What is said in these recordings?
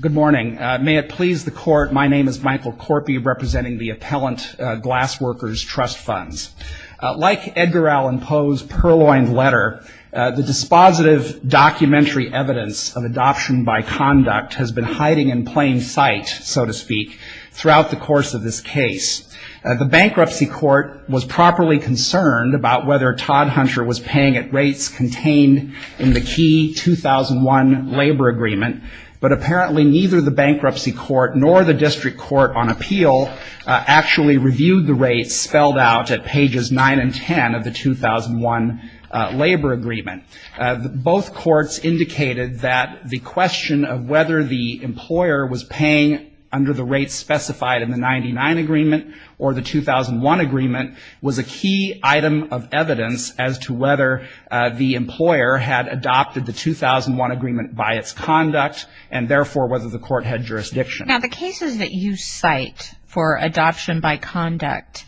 Good morning. May it please the court, my name is Michael Corpy representing the Appellant Glassworkers Trust Funds. Like Edgar Allan Poe's purloined letter, the dispositive documentary evidence of adoption by conduct has been hiding in plain sight, so to speak, throughout the course of this case. The bankruptcy court was properly concerned about whether Todhunter was paying at rates contained in the key 2001 labor agreement, but apparently neither the bankruptcy court nor the district court on appeal actually reviewed the rates spelled out at pages 9 and 10 of the 2001 labor agreement. Both courts indicated that the question of whether the employer was paying under the rates specified in the 99 agreement or the 2001 agreement was a key item of evidence as to whether the employer had adopted the 2001 agreement by its conduct and therefore whether the court had jurisdiction. Now the cases that you cite for adoption by conduct,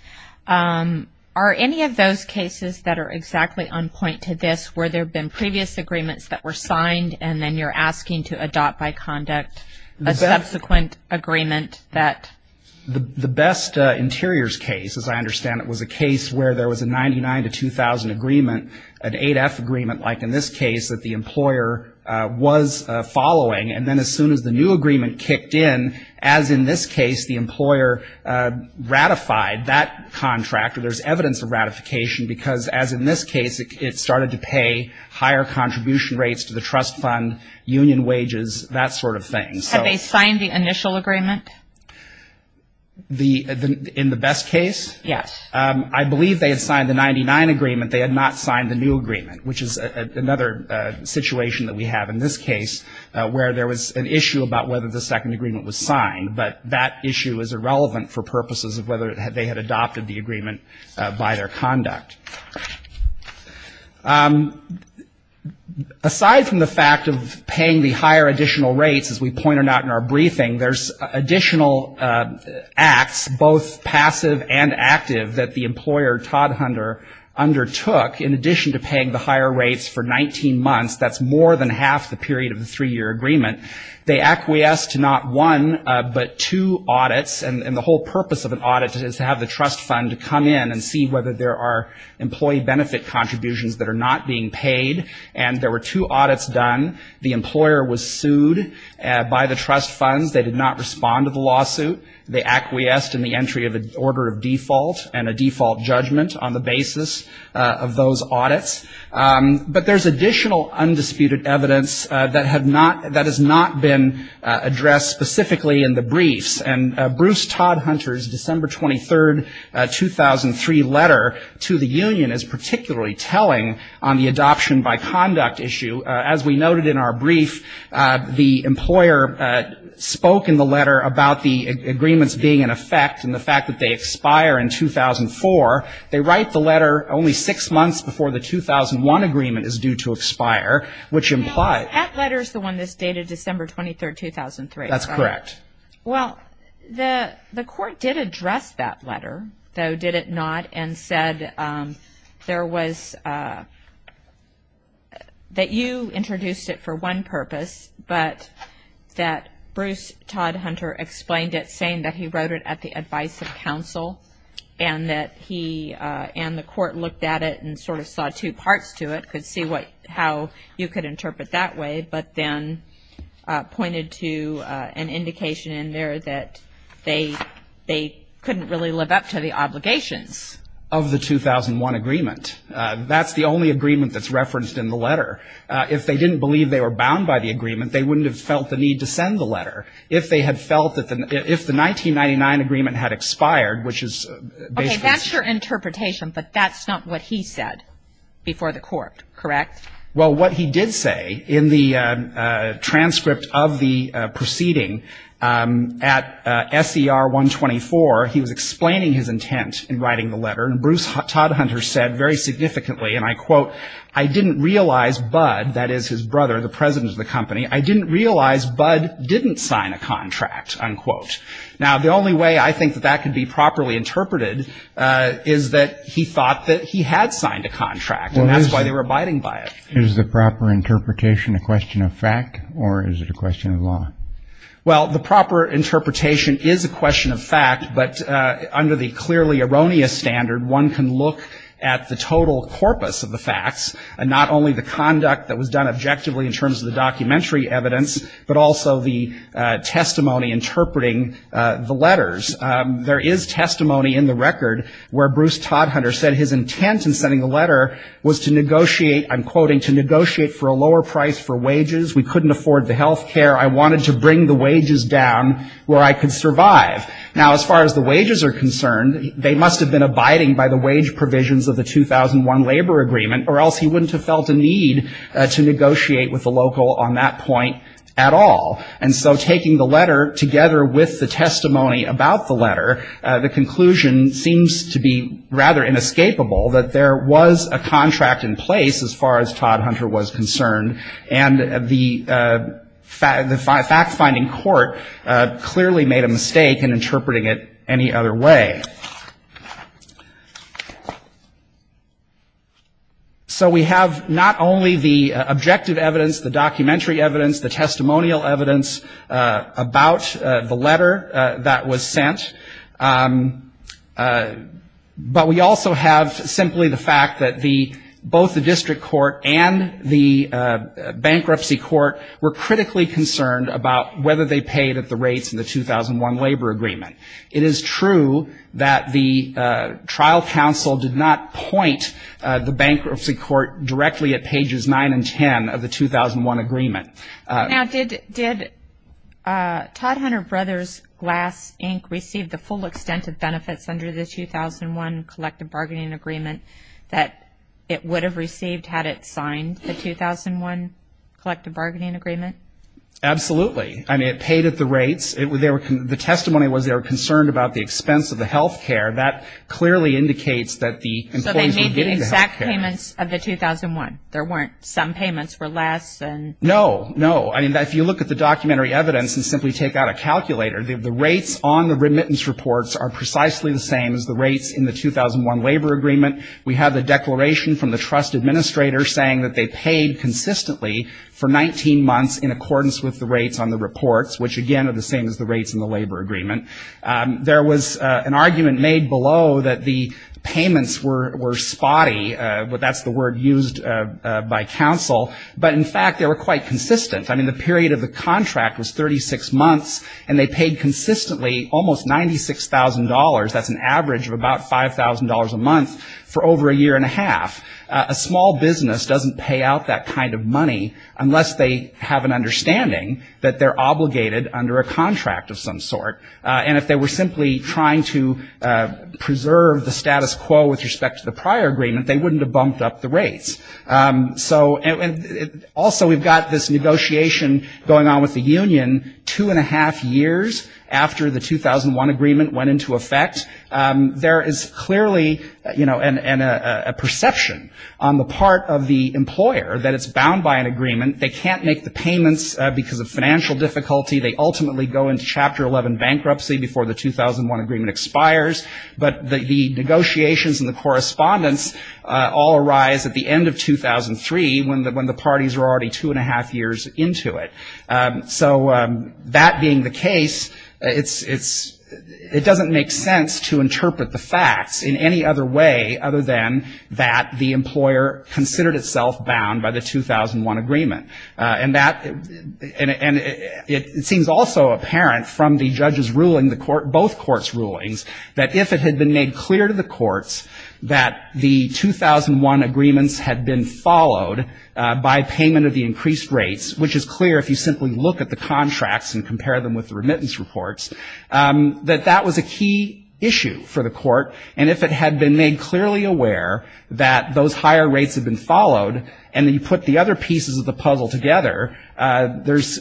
are any of those cases that are exactly on point to this, where there have been previous agreements that were signed and then you're asking to adopt by conduct a subsequent agreement that The Best Interiors case, as I understand it, was a case where there was a 99 to 2000 agreement, an 8F agreement like in this case that the employer was following, and then as soon as the new agreement kicked in, as in this case the employer ratified that contract, or there's evidence of ratification, because as in this case it started to pay higher contribution rates to the trust fund, union wages, that sort of thing. Had they signed the initial agreement? In the Best case? Yes. I believe they had signed the 99 agreement. They had not signed the new agreement, which is another situation that we have in this case, where there was an issue about whether the second agreement was signed, but that issue is irrelevant for purposes of whether they had adopted the agreement by their conduct. Aside from the fact of paying the higher additional rates, as we pointed out in our briefing, there's additional acts, both passive and active, that the employer, Todd Hunter, undertook. In addition to paying the higher rates for 19 months, that's more than half the period of the three-year agreement, they acquiesced to not one, but two audits, and the whole purpose of an audit is to have the trust fund come in and see whether there are employee benefit contributions that are not being paid. And there were two audits done. The employer was sued by the trust funds. They did not respond to the lawsuit. They acquiesced in the entry of an order of default and a default judgment on the basis of those audits. But there's additional undisputed evidence that has not been addressed specifically in the briefs. And Bruce Todd Hunter's December 23, 2003 letter to the union is particularly telling on the adoption-by-conduct issue. As we noted in our brief, the employer spoke in the letter about the agreements being in effect and the fact that they expire in 2004. They write the letter only six months before the 2001 agreement is due to expire, which implies That letter is the one that's dated December 23, 2003. That's correct. Well, the court did address that letter, though, did it not, and said that you introduced it for one purpose, but that Bruce Todd Hunter explained it saying that he wrote it at the advice of counsel and the court looked at it and sort of saw two parts to it, could see how you could interpret that way, but then pointed to an indication in there that they couldn't really live up to the obligations. Of the 2001 agreement. That's the only agreement that's referenced in the letter. If they didn't believe they were bound by the agreement, they wouldn't have felt the need to send the letter. If they had felt that the 1999 agreement had expired, which is basically Okay, that's your interpretation, but that's not what he said before the court, correct? Well, what he did say in the transcript of the proceeding at SCR 124, he was explaining his intent in writing the letter, and Bruce Todd Hunter said very significantly, and I quote, I didn't realize Bud, that is his brother, the president of the company, I didn't realize Bud didn't sign a contract, unquote. Now, the only way I think that that could be properly interpreted is that he thought that he had signed a contract, and that's why they were abiding by it. Is the proper interpretation a question of fact, or is it a question of law? Well, the proper interpretation is a question of fact, but under the clearly erroneous standard, one can look at the total corpus of the facts, and not only the conduct that was done objectively in terms of the documentary evidence, but also the testimony interpreting the letters. There is testimony in the record where Bruce Todd Hunter said his intent in sending the letter was to negotiate, I'm quoting, to negotiate for a lower price for wages. We couldn't afford the health care. I wanted to bring the wages down where I could survive. Now, as far as the wages are concerned, they must have been abiding by the wage provisions of the 2001 labor agreement, or else he wouldn't have felt a need to negotiate with the local on that point at all. And so taking the letter together with the testimony about the letter, the conclusion seems to be rather inescapable, that there was a contract in place as far as Todd Hunter was concerned, and the fact-finding court clearly made a mistake in interpreting it any other way. So we have not only the objective evidence, the documentary evidence, the testimonial evidence about the letter that was sent, but we also have simply the fact that both the district court and the bankruptcy court were critically concerned about whether they paid at the rates in the 2001 labor agreement. It is true that the trial counsel did not point the bankruptcy court directly at pages 9 and 10 of the 2001 agreement. Now, did Todd Hunter Brothers Glass, Inc. receive the full extent of benefits under the 2001 collective bargaining agreement that it would have received had it signed the 2001 collective bargaining agreement? Absolutely. I mean, it paid at the rates. The testimony was they were concerned about the expense of the health care. That clearly indicates that the employees were getting the health care. So they made the exact payments of the 2001. There weren't some payments for less. No. No. I mean, if you look at the documentary evidence and simply take out a calculator, the rates on the remittance reports are precisely the same as the rates in the 2001 labor agreement. We have the declaration from the trust administrator saying that they paid consistently for 19 months in accordance with the rates on the reports, which again are the same as the rates in the labor agreement. There was an argument made below that the payments were spotty. That's the word used by counsel. But in fact, they were quite consistent. I mean, the period of the contract was 36 months, and they paid consistently almost $96,000. That's an average of about $5,000 a month for over a year and a half. A small business doesn't pay out that kind of money unless they have an understanding that they're obligated under a contract of some sort. And if they were simply trying to preserve the status quo with respect to the prior agreement, they wouldn't have bumped up the rates. So also we've got this negotiation going on with the union, two and a half years after the 2001 agreement went into effect. There is clearly, you know, a perception on the part of the employer that it's bound by an agreement. They can't make the payments because of financial difficulty. They ultimately go into Chapter 11 bankruptcy before the 2001 agreement expires. But the negotiations and the correspondence all arise at the end of 2003, when the parties were already two and a half years into it. So that being the case, it doesn't make sense to interpret the facts in any other way, other than that the employer considered itself bound by the 2001 agreement. And it seems also apparent from the judge's ruling, both courts' rulings, that if it had been made clear to the courts that the 2001 agreements had been followed by payment of the increased rates, which is clear if you simply look at the contracts and compare them with the remittance reports, that that was a key issue for the court. And if it had been made clearly aware that those higher rates had been followed and then you put the other pieces of the puzzle together, there's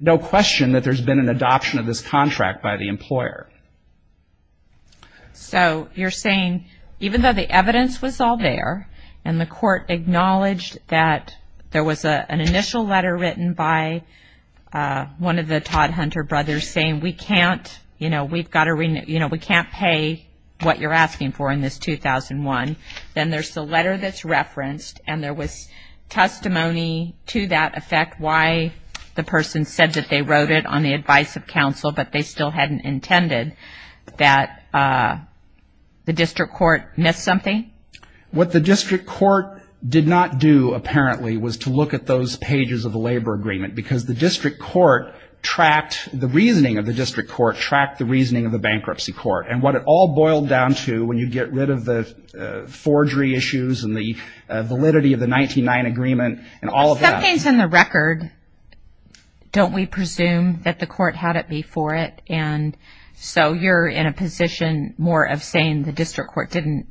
no question that there's been an adoption of this contract by the employer. So you're saying even though the evidence was all there and the court acknowledged that there was an initial letter written by one of the Todd Hunter brothers saying, we can't, you know, we've got to, you know, we can't pay what you're asking for in this 2001, then there's the letter that's referenced and there was testimony to that effect, why the person said that they wrote it on the advice of counsel, but they still hadn't intended that the district court missed something? What the district court did not do apparently was to look at those pages of the labor agreement because the district court tracked the reasoning of the district court, tracked the reasoning of the bankruptcy court. And what it all boiled down to when you get rid of the forgery issues and the validity of the 1909 agreement and all of that. Well, something's in the record. Don't we presume that the court had it before it? And so you're in a position more of saying the district court didn't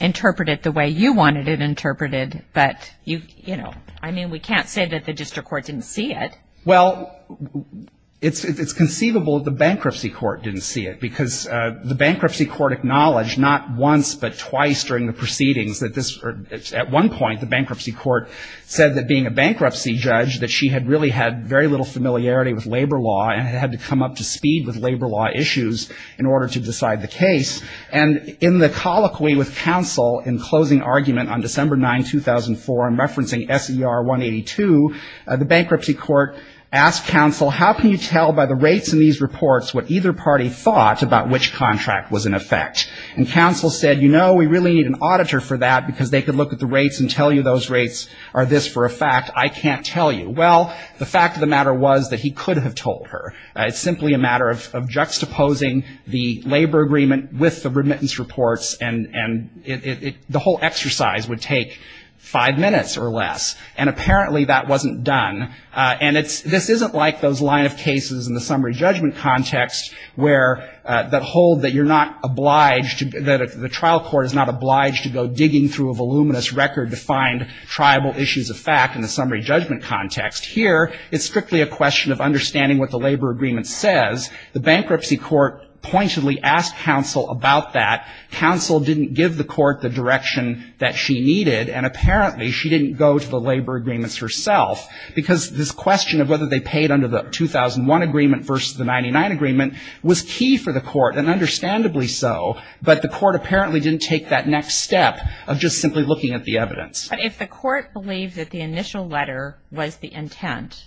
interpret it the way you wanted it interpreted, but, you know, I mean, we can't say that the district court didn't see it. Well, it's conceivable the bankruptcy court didn't see it because the bankruptcy court acknowledged not once but twice during the proceedings that this at one point the bankruptcy court said that being a bankruptcy judge that she had really had very little familiarity with labor law and had to come up to speed with labor law issues in order to decide the case. And in the colloquy with counsel in closing argument on December 9, 2004, I'm referencing SER 182, the bankruptcy court asked counsel, how can you tell by the rates in these reports what either party thought about which contract was in effect? And counsel said, you know, we really need an auditor for that because they could look at the rates and tell you those rates are this for a fact. I can't tell you. Well, the fact of the matter was that he could have told her. It's simply a matter of juxtaposing the labor agreement with the remittance reports and the whole exercise would take five minutes or less. And apparently that wasn't done. And this isn't like those line of cases in the summary judgment context where that hold that you're not obliged, that the trial court is not obliged to go digging through a voluminous record to find tribal issues of fact in the summary judgment context. Here it's strictly a question of understanding what the labor agreement says. The bankruptcy court pointedly asked counsel about that. Counsel didn't give the court the direction that she needed, and apparently she didn't go to the labor agreements herself because this question of whether they paid under the 2001 agreement versus the 99 agreement was key for the court, and understandably so, but the court apparently didn't take that next step of just simply looking at the evidence. But if the court believed that the initial letter was the intent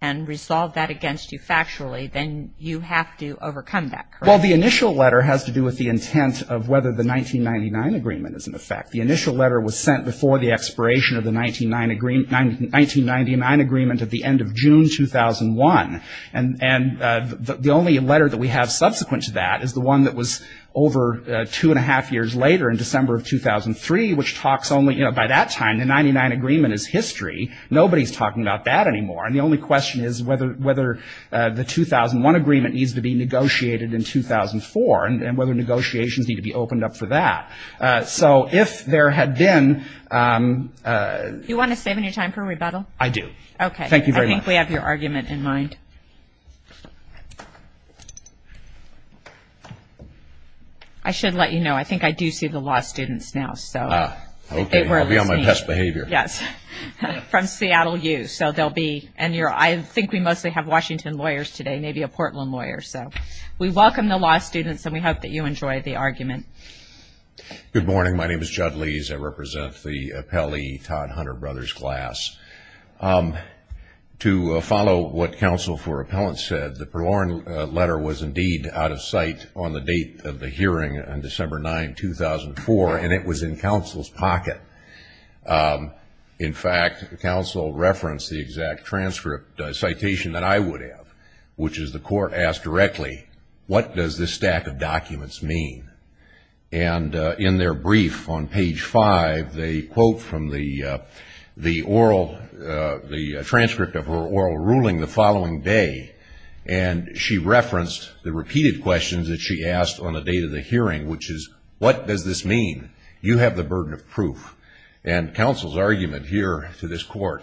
and resolved that against you factually, then you have to overcome that, correct? Well, the initial letter has to do with the intent of whether the 1999 agreement is in effect. The initial letter was sent before the expiration of the 1999 agreement at the end of June 2001, and the only letter that we have subsequent to that is the one that was over two and a half years later in December of 2003, which talks only, you know, by that time the 99 agreement is history. Nobody's talking about that anymore, and the only question is whether the 2001 agreement needs to be negotiated in 2004 and whether negotiations need to be opened up for that. So if there had been... Do you want to save any time for rebuttal? I do. Okay. Thank you very much. I think we have your argument in mind. I should let you know, I think I do see the law students now, so... Ah, okay. I'll be on my best behavior. Yes. From Seattle U, so there'll be... And I think we mostly have Washington lawyers today, maybe a Portland lawyer. So we welcome the law students, and we hope that you enjoy the argument. Good morning. My name is Jud Lees. I represent the Appellee Todd Hunter Brothers class. To follow what counsel for appellants said, the Perlourne letter was indeed out of sight on the date of the hearing on December 9, 2004, and it was in counsel's pocket. In fact, counsel referenced the exact transcript citation that I would have, which is the court asked directly, what does this stack of documents mean? And in their brief on page five, they quote from the oral, the transcript of her oral ruling the following day, and she referenced the repeated questions that she asked on the date of the hearing, which is, what does this mean? You have the burden of proof. And counsel's argument here to this court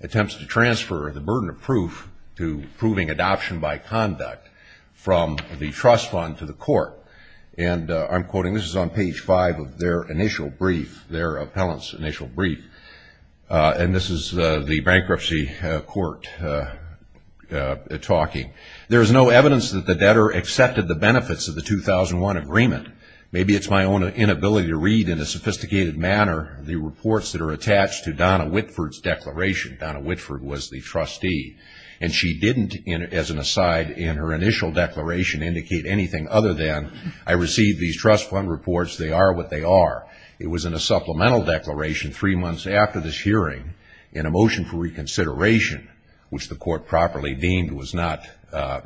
attempts to transfer the burden of proof to proving adoption by conduct from the trust fund to the court. And I'm quoting, this is on page five of their initial brief, their appellant's initial brief, and this is the bankruptcy court talking. There is no evidence that the debtor accepted the benefits of the 2001 agreement. Maybe it's my own inability to read in a sophisticated manner the reports that are attached to Donna Whitford's declaration. Donna Whitford was the trustee. And she didn't, as an aside, in her initial declaration indicate anything other than, I received these trust fund reports, they are what they are. It was in a supplemental declaration three months after this hearing in a motion for reconsideration, which the court properly deemed was not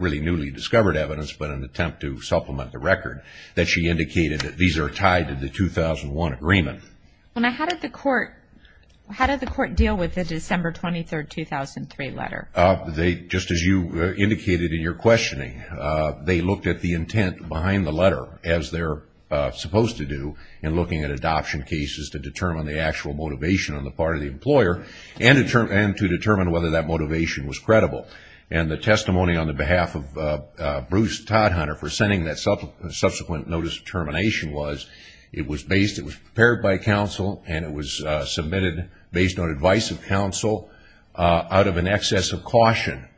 really newly discovered evidence but an attempt to supplement the record, that she indicated that these are tied to the 2001 agreement. Now, how did the court deal with the December 23, 2003 letter? Just as you indicated in your questioning, they looked at the intent behind the letter as they're supposed to do in looking at adoption cases to determine the actual motivation on the part of the employer and to determine whether that motivation was credible. And the testimony on the behalf of Bruce Todhunter for sending that subsequent notice of termination was, it was prepared by counsel and it was submitted based on advice of counsel out of an excess of caution.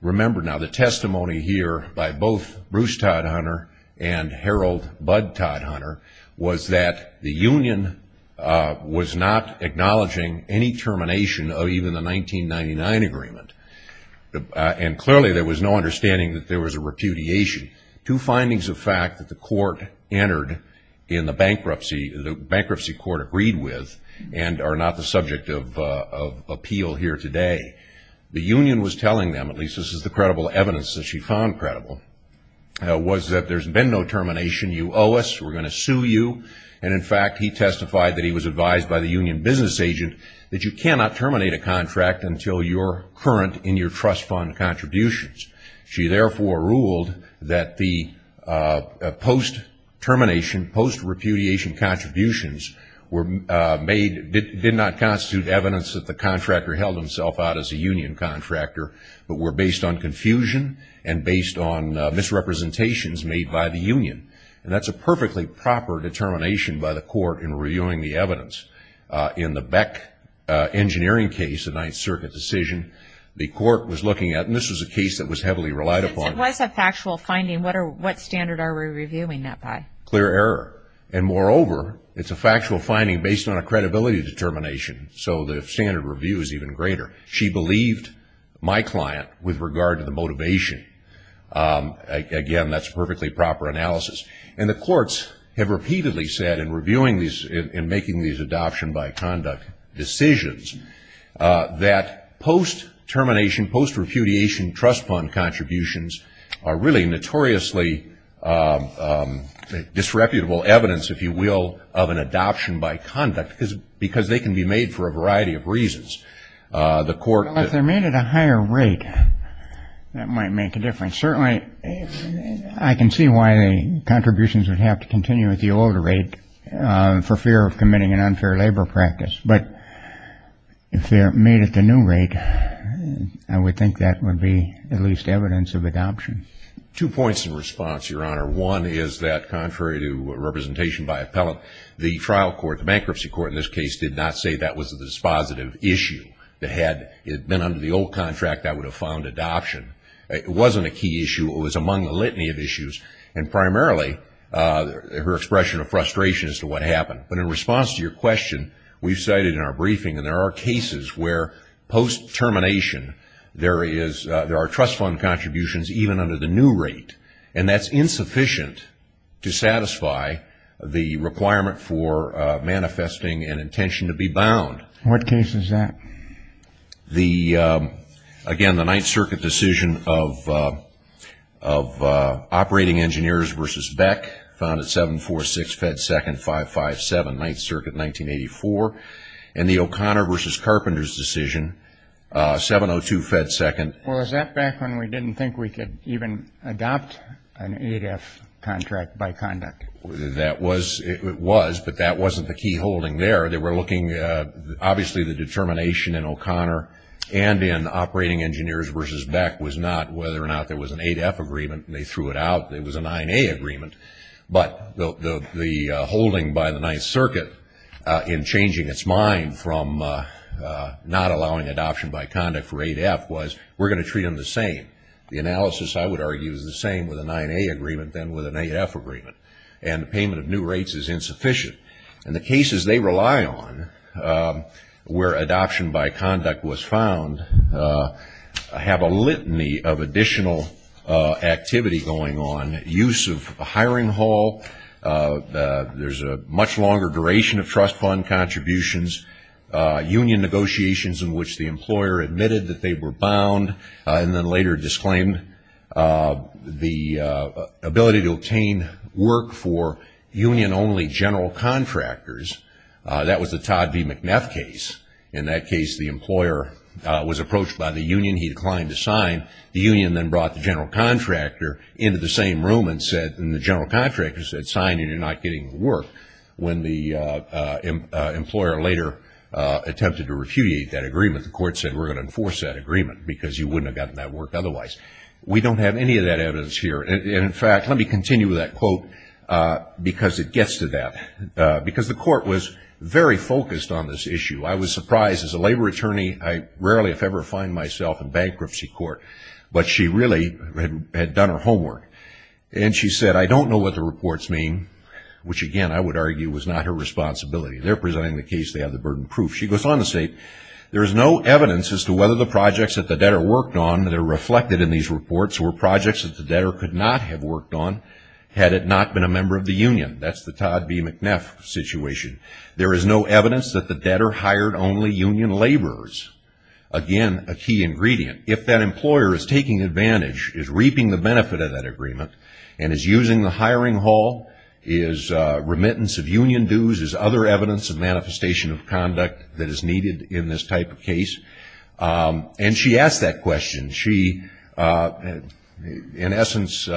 Remember now, the testimony here by both Bruce Todhunter and Harold Bud Todhunter was that the union was not acknowledging any termination of even the 1999 agreement. And clearly there was no understanding that there was a repudiation. Two findings of fact that the court entered in the bankruptcy, the bankruptcy court agreed with and are not the subject of appeal here today. The union was telling them, at least this is the credible evidence that she found credible, was that there's been no termination, you owe us, we're going to sue you. And in fact, he testified that he was advised by the union business agent that you cannot terminate a contract until you're current in your trust fund contributions. She therefore ruled that the post-termination, post-repudiation contributions were made, did not constitute evidence that the contractor held himself out as a union contractor, but were based on confusion and based on misrepresentations made by the union. And that's a perfectly proper determination by the court in reviewing the evidence. In the Beck engineering case, the Ninth Circuit decision, the court was looking at, and this was a case that was heavily relied upon. Since it was a factual finding, what standard are we reviewing that by? Clear error. And moreover, it's a factual finding based on a credibility determination, so the standard review is even greater. She believed my client with regard to the motivation. Again, that's perfectly proper analysis. And the courts have repeatedly said in reviewing these, in making these adoption by conduct decisions, that post-termination, post-repudiation trust fund contributions are really notoriously disreputable evidence, if you will, of an adoption by conduct because they can be made for a variety of reasons. If they're made at a higher rate, that might make a difference. Certainly, I can see why the contributions would have to continue at the older rate for fear of committing an unfair labor practice. But if they're made at the new rate, I would think that would be at least evidence of adoption. Two points in response, Your Honor. One is that contrary to representation by appellate, the trial court, the bankruptcy court in this case, did not say that was a dispositive issue. That had it been under the old contract, that would have found adoption. It wasn't a key issue. It was among the litany of issues, and primarily her expression of frustration as to what happened. But in response to your question, we've cited in our briefing, and there are cases where post-termination there are trust fund contributions even under the new rate, and that's insufficient to satisfy the requirement for manifesting an intention to be bound. What case is that? The, again, the Ninth Circuit decision of Operating Engineers v. Beck, found at 746 Fed 2nd, 557, Ninth Circuit, 1984, and the O'Connor v. Carpenters decision, 702 Fed 2nd. Well, is that back when we didn't think we could even adopt an ADF contract by conduct? That was. It was, but that wasn't the key holding there. They were looking, obviously, the determination in O'Connor and in Operating Engineers v. Beck was not whether or not there was an ADF agreement, and they threw it out. It was a 9A agreement. But the holding by the Ninth Circuit in changing its mind from not allowing adoption by conduct for ADF was, we're going to treat them the same. The analysis, I would argue, is the same with a 9A agreement than with an ADF agreement, and the payment of new rates is insufficient. And the cases they rely on, where adoption by conduct was found, have a litany of additional activity going on, use of a hiring hall, there's a much longer duration of trust fund contributions, union negotiations in which the employer admitted that they were bound and then later disclaimed the ability to obtain work for union-only general contractors. That was the Todd v. McNeff case. In that case, the employer was approached by the union. He declined to sign. The union then brought the general contractor into the same room and said, and the general contractor said, sign and you're not getting the work. When the employer later attempted to repudiate that agreement, the court said, because you wouldn't have gotten that work otherwise. We don't have any of that evidence here. And, in fact, let me continue with that quote because it gets to that. Because the court was very focused on this issue. I was surprised. As a labor attorney, I rarely if ever find myself in bankruptcy court. But she really had done her homework. And she said, I don't know what the reports mean, which, again, I would argue was not her responsibility. They're presenting the case. They have the burden of proof. She goes on to say, there is no evidence as to whether the projects that the debtor worked on that are reflected in these reports were projects that the debtor could not have worked on had it not been a member of the union. That's the Todd v. McNeff situation. There is no evidence that the debtor hired only union laborers. Again, a key ingredient. If that employer is taking advantage, is reaping the benefit of that agreement, and is using the hiring hall, is remittance of union dues, is other evidence of manifestation of conduct that is needed in this type of case. And she asked that question. She, in essence,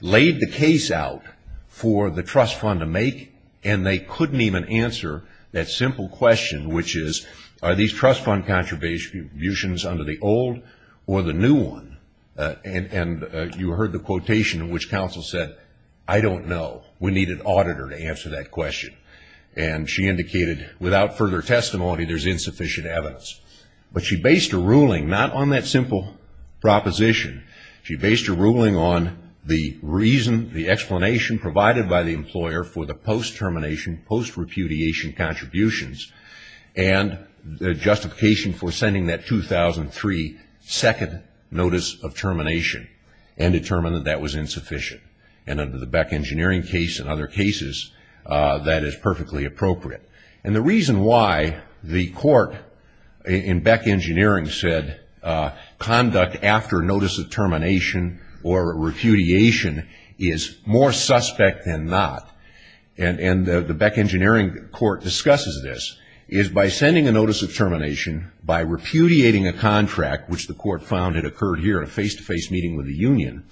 laid the case out for the trust fund to make, and they couldn't even answer that simple question, which is are these trust fund contributions under the old or the new one? And you heard the quotation in which counsel said, I don't know. We need an auditor to answer that question. And she indicated, without further testimony, there's insufficient evidence. But she based her ruling not on that simple proposition. She based her ruling on the reason, the explanation provided by the employer for the post-termination, post-repudiation contributions, and the justification for sending that 2003 second notice of termination, and determined that that was insufficient. And under the Beck Engineering case and other cases, that is perfectly appropriate. And the reason why the court in Beck Engineering said conduct after notice of termination or repudiation is more suspect than not, and the Beck Engineering court discusses this, is by sending a notice of termination, by repudiating a contract, which the court found had occurred here at a face-to-face meeting with the union,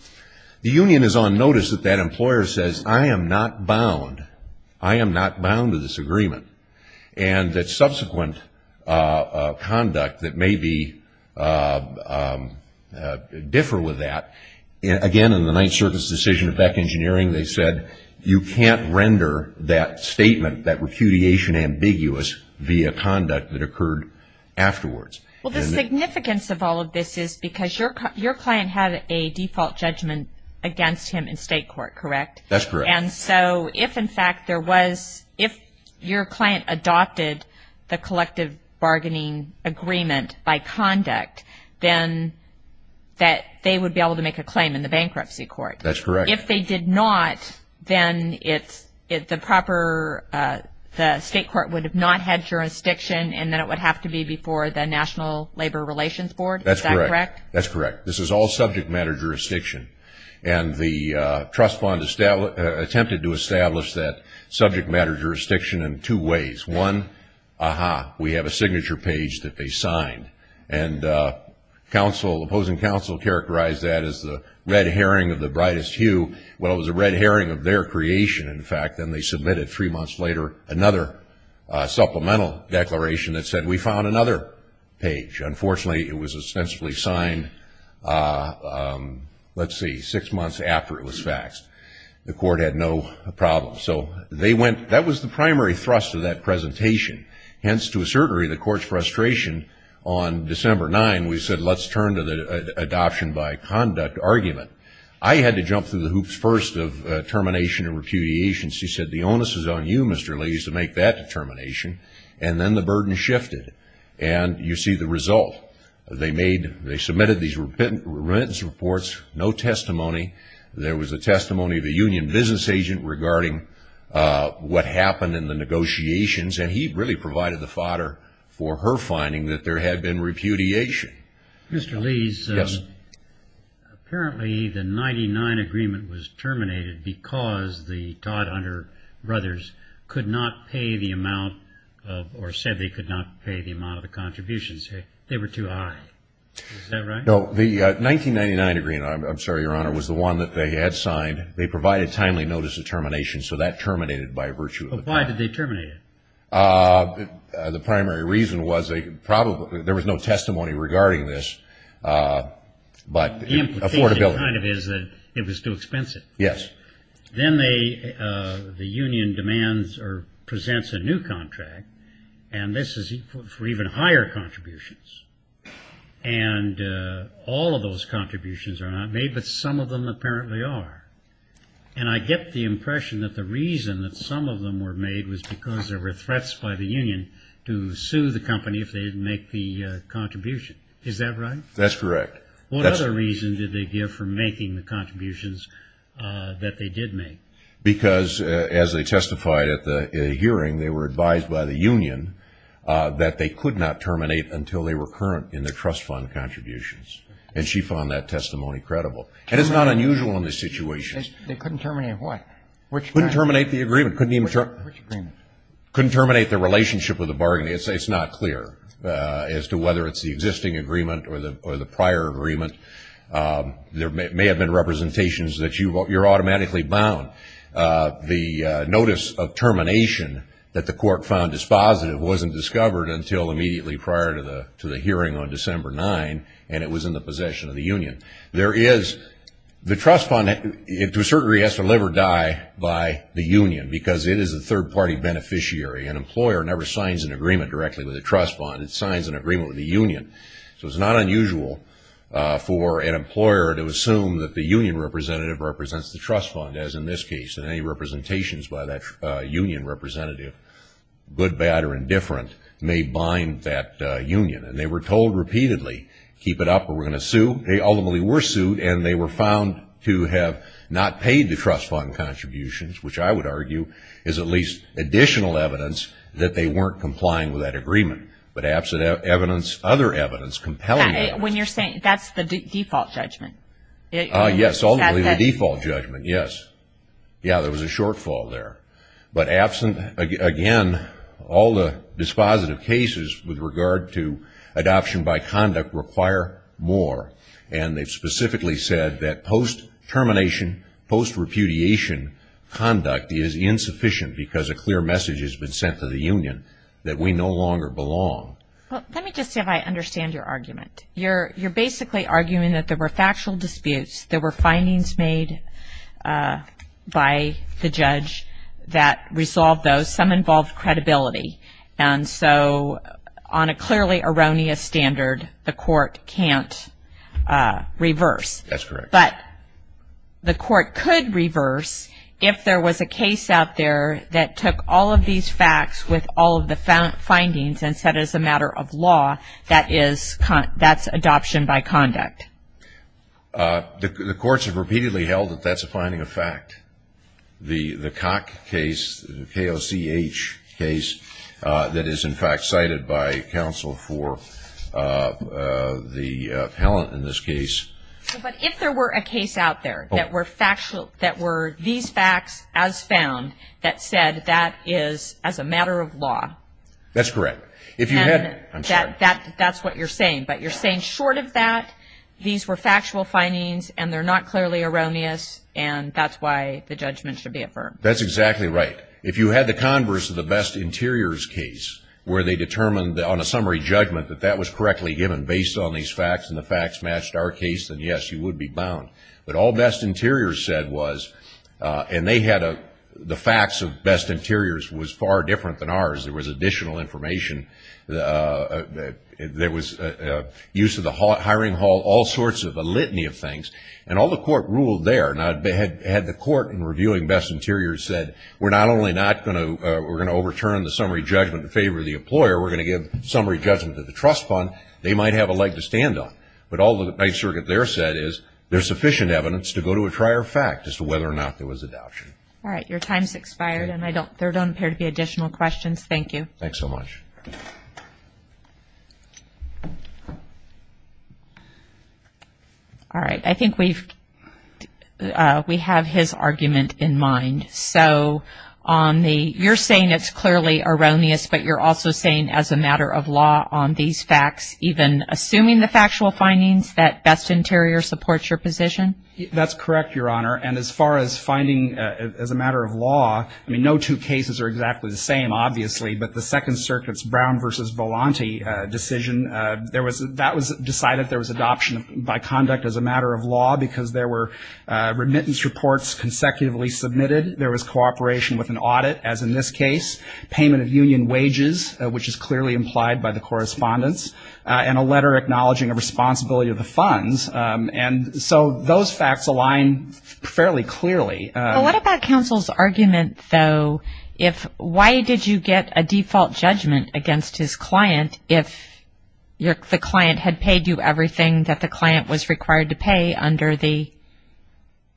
the union is on notice that that employer says, I am not bound. I am not bound to this agreement. And that subsequent conduct that may differ with that, again, in the Ninth Circuit's decision of Beck Engineering, they said, you can't render that statement, that repudiation ambiguous, via conduct that occurred afterwards. Well, the significance of all of this is because your client had a default judgment against him in state court, correct? That's correct. And so if, in fact, there was, if your client adopted the collective bargaining agreement by conduct, then they would be able to make a claim in the bankruptcy court. That's correct. If they did not, then the state court would have not had jurisdiction, and then it would have to be before the National Labor Relations Board. Is that correct? That's correct. This is all subject matter jurisdiction. And the trust fund attempted to establish that subject matter jurisdiction in two ways. One, ah-ha, we have a signature page that they signed, and opposing counsel characterized that as the red herring of the brightest hue. Well, it was a red herring of their creation, in fact, and they submitted three months later another supplemental declaration that said, we found another page. Unfortunately, it was ostensibly signed, let's see, six months after it was faxed. The court had no problem. So they went, that was the primary thrust of that presentation. Hence, to a certain degree, the court's frustration on December 9, we said let's turn to the adoption by conduct argument. I had to jump through the hoops first of termination and repudiation. She said, the onus is on you, Mr. Lees, to make that determination. And then the burden shifted. And you see the result. They made, they submitted these remittance reports, no testimony. There was a testimony of a union business agent regarding what happened in the negotiations, and he really provided the fodder for her finding that there had been repudiation. Mr. Lees. Yes. Apparently, the 1999 agreement was terminated because the Todd Hunter brothers could not pay the amount or said they could not pay the amount of the contributions. They were too high. Is that right? No, the 1999 agreement, I'm sorry, Your Honor, was the one that they had signed. They provided timely notice of termination, so that terminated by virtue of the fact. But why did they terminate it? The primary reason was there was no testimony regarding this, but affordability. The implication kind of is that it was too expensive. Yes. Then the union demands or presents a new contract, and this is for even higher contributions. And all of those contributions are not made, but some of them apparently are. And I get the impression that the reason that some of them were made was because there were threats by the union to sue the company if they didn't make the contribution. Is that right? That's correct. What other reason did they give for making the contributions that they did make? Because, as they testified at the hearing, they were advised by the union that they could not terminate until they were current in their trust fund contributions, and she found that testimony credible. And it's not unusual in these situations. They couldn't terminate what? Couldn't terminate the agreement. Which agreement? Couldn't terminate the relationship with the bargaining. It's not clear as to whether it's the existing agreement or the prior agreement. There may have been representations that you're automatically bound. The notice of termination that the court found dispositive wasn't discovered until immediately prior to the hearing on December 9, and it was in the possession of the union. The trust fund, to a certain degree, has to live or die by the union because it is a third-party beneficiary. An employer never signs an agreement directly with a trust fund. It signs an agreement with the union. So it's not unusual for an employer to assume that the union representative represents the trust fund, as in this case, and any representations by that union representative, good, bad, or indifferent, may bind that union. And they were told repeatedly, keep it up or we're going to sue. They ultimately were sued, and they were found to have not paid the trust fund contributions, which I would argue is at least additional evidence that they weren't complying with that agreement. But absent evidence, other evidence compelling evidence. When you're saying that's the default judgment. Yes, ultimately the default judgment, yes. Yeah, there was a shortfall there. But absent, again, all the dispositive cases with regard to adoption by conduct require more, and they've specifically said that post-termination, post-repudiation conduct is insufficient because a clear message has been sent to the union that we no longer belong. Let me just see if I understand your argument. You're basically arguing that there were factual disputes. There were findings made by the judge that resolved those. Some involved credibility. And so on a clearly erroneous standard, the court can't reverse. That's correct. But the court could reverse if there was a case out there that took all of these facts with all of the findings and said it's a matter of law, that's adoption by conduct. The courts have repeatedly held that that's a finding of fact. The Koch case, the K-O-C-H case, that is, in fact, cited by counsel for the appellant in this case. But if there were a case out there that were factual, that were these facts as found, that said that is as a matter of law. That's correct. And that's what you're saying, but you're saying short of that, these were factual findings and they're not clearly erroneous, and that's why the judgment should be affirmed. That's exactly right. If you had the converse of the Best Interiors case where they determined on a summary judgment that that was correctly given based on these facts and the facts matched our case, then, yes, you would be bound. But all Best Interiors said was, and they had a the facts of Best Interiors was far different than ours. There was additional information. There was use of the hiring hall, all sorts of litany of things. And all the court ruled there. Now, had the court in reviewing Best Interiors said, we're not only not going to overturn the summary judgment in favor of the employer, we're going to give summary judgment to the trust fund, they might have a leg to stand on. But all the Ninth Circuit there said is, there's sufficient evidence to go to a prior fact as to whether or not there was adoption. All right. Your time's expired and there don't appear to be additional questions. Thank you. Thanks so much. All right. I think we have his argument in mind. So you're saying it's clearly erroneous, but you're also saying as a matter of law on these facts, even assuming the factual findings that Best Interiors supports your position? That's correct, Your Honor. And as far as finding as a matter of law, I mean, no two cases are exactly the same, obviously, but the Second Circuit's Brown v. Volante decision, because there were remittance reports consecutively submitted, there was cooperation with an audit, as in this case, payment of union wages, which is clearly implied by the correspondence, and a letter acknowledging a responsibility of the funds. And so those facts align fairly clearly. What about counsel's argument, though, if why did you get a default judgment against his client if the client had paid you everything that the client was required to pay under the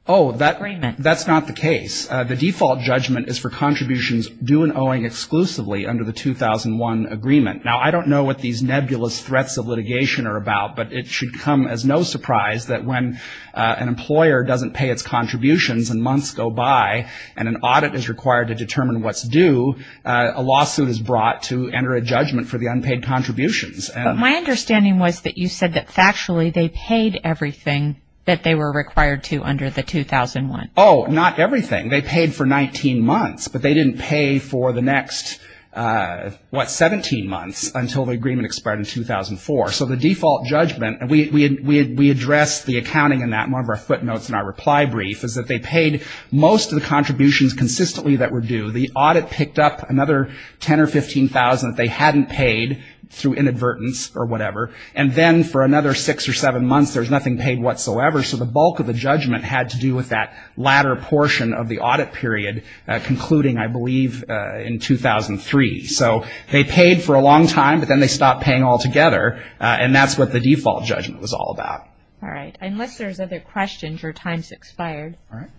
agreement? Oh, that's not the case. The default judgment is for contributions due and owing exclusively under the 2001 agreement. Now, I don't know what these nebulous threats of litigation are about, but it should come as no surprise that when an employer doesn't pay its contributions and months go by and an audit is required to determine what's due, a lawsuit is brought to enter a judgment for the unpaid contributions. My understanding was that you said that factually they paid everything that they were required to under the 2001. Oh, not everything. They paid for 19 months, but they didn't pay for the next, what, 17 months until the agreement expired in 2004. So the default judgment, and we addressed the accounting in that in one of our footnotes in our reply brief, is that they paid most of the contributions consistently that were due. The audit picked up another $10,000 or $15,000 they hadn't paid through inadvertence or whatever, and then for another six or seven months there was nothing paid whatsoever. So the bulk of the judgment had to do with that latter portion of the audit period, concluding, I believe, in 2003. So they paid for a long time, but then they stopped paying altogether, and that's what the default judgment was all about. All right. Unless there's other questions, your time has expired. All right.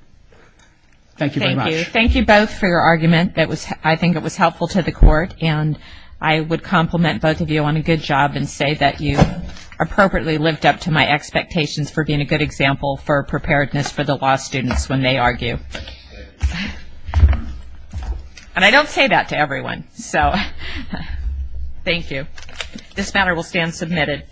Thank you very much. Thank you both for your argument. I think it was helpful to the court, and I would compliment both of you on a good job and say that you appropriately lived up to my expectations for being a good example for preparedness for the law students when they argue. And I don't say that to everyone, so thank you. This matter will stand submitted.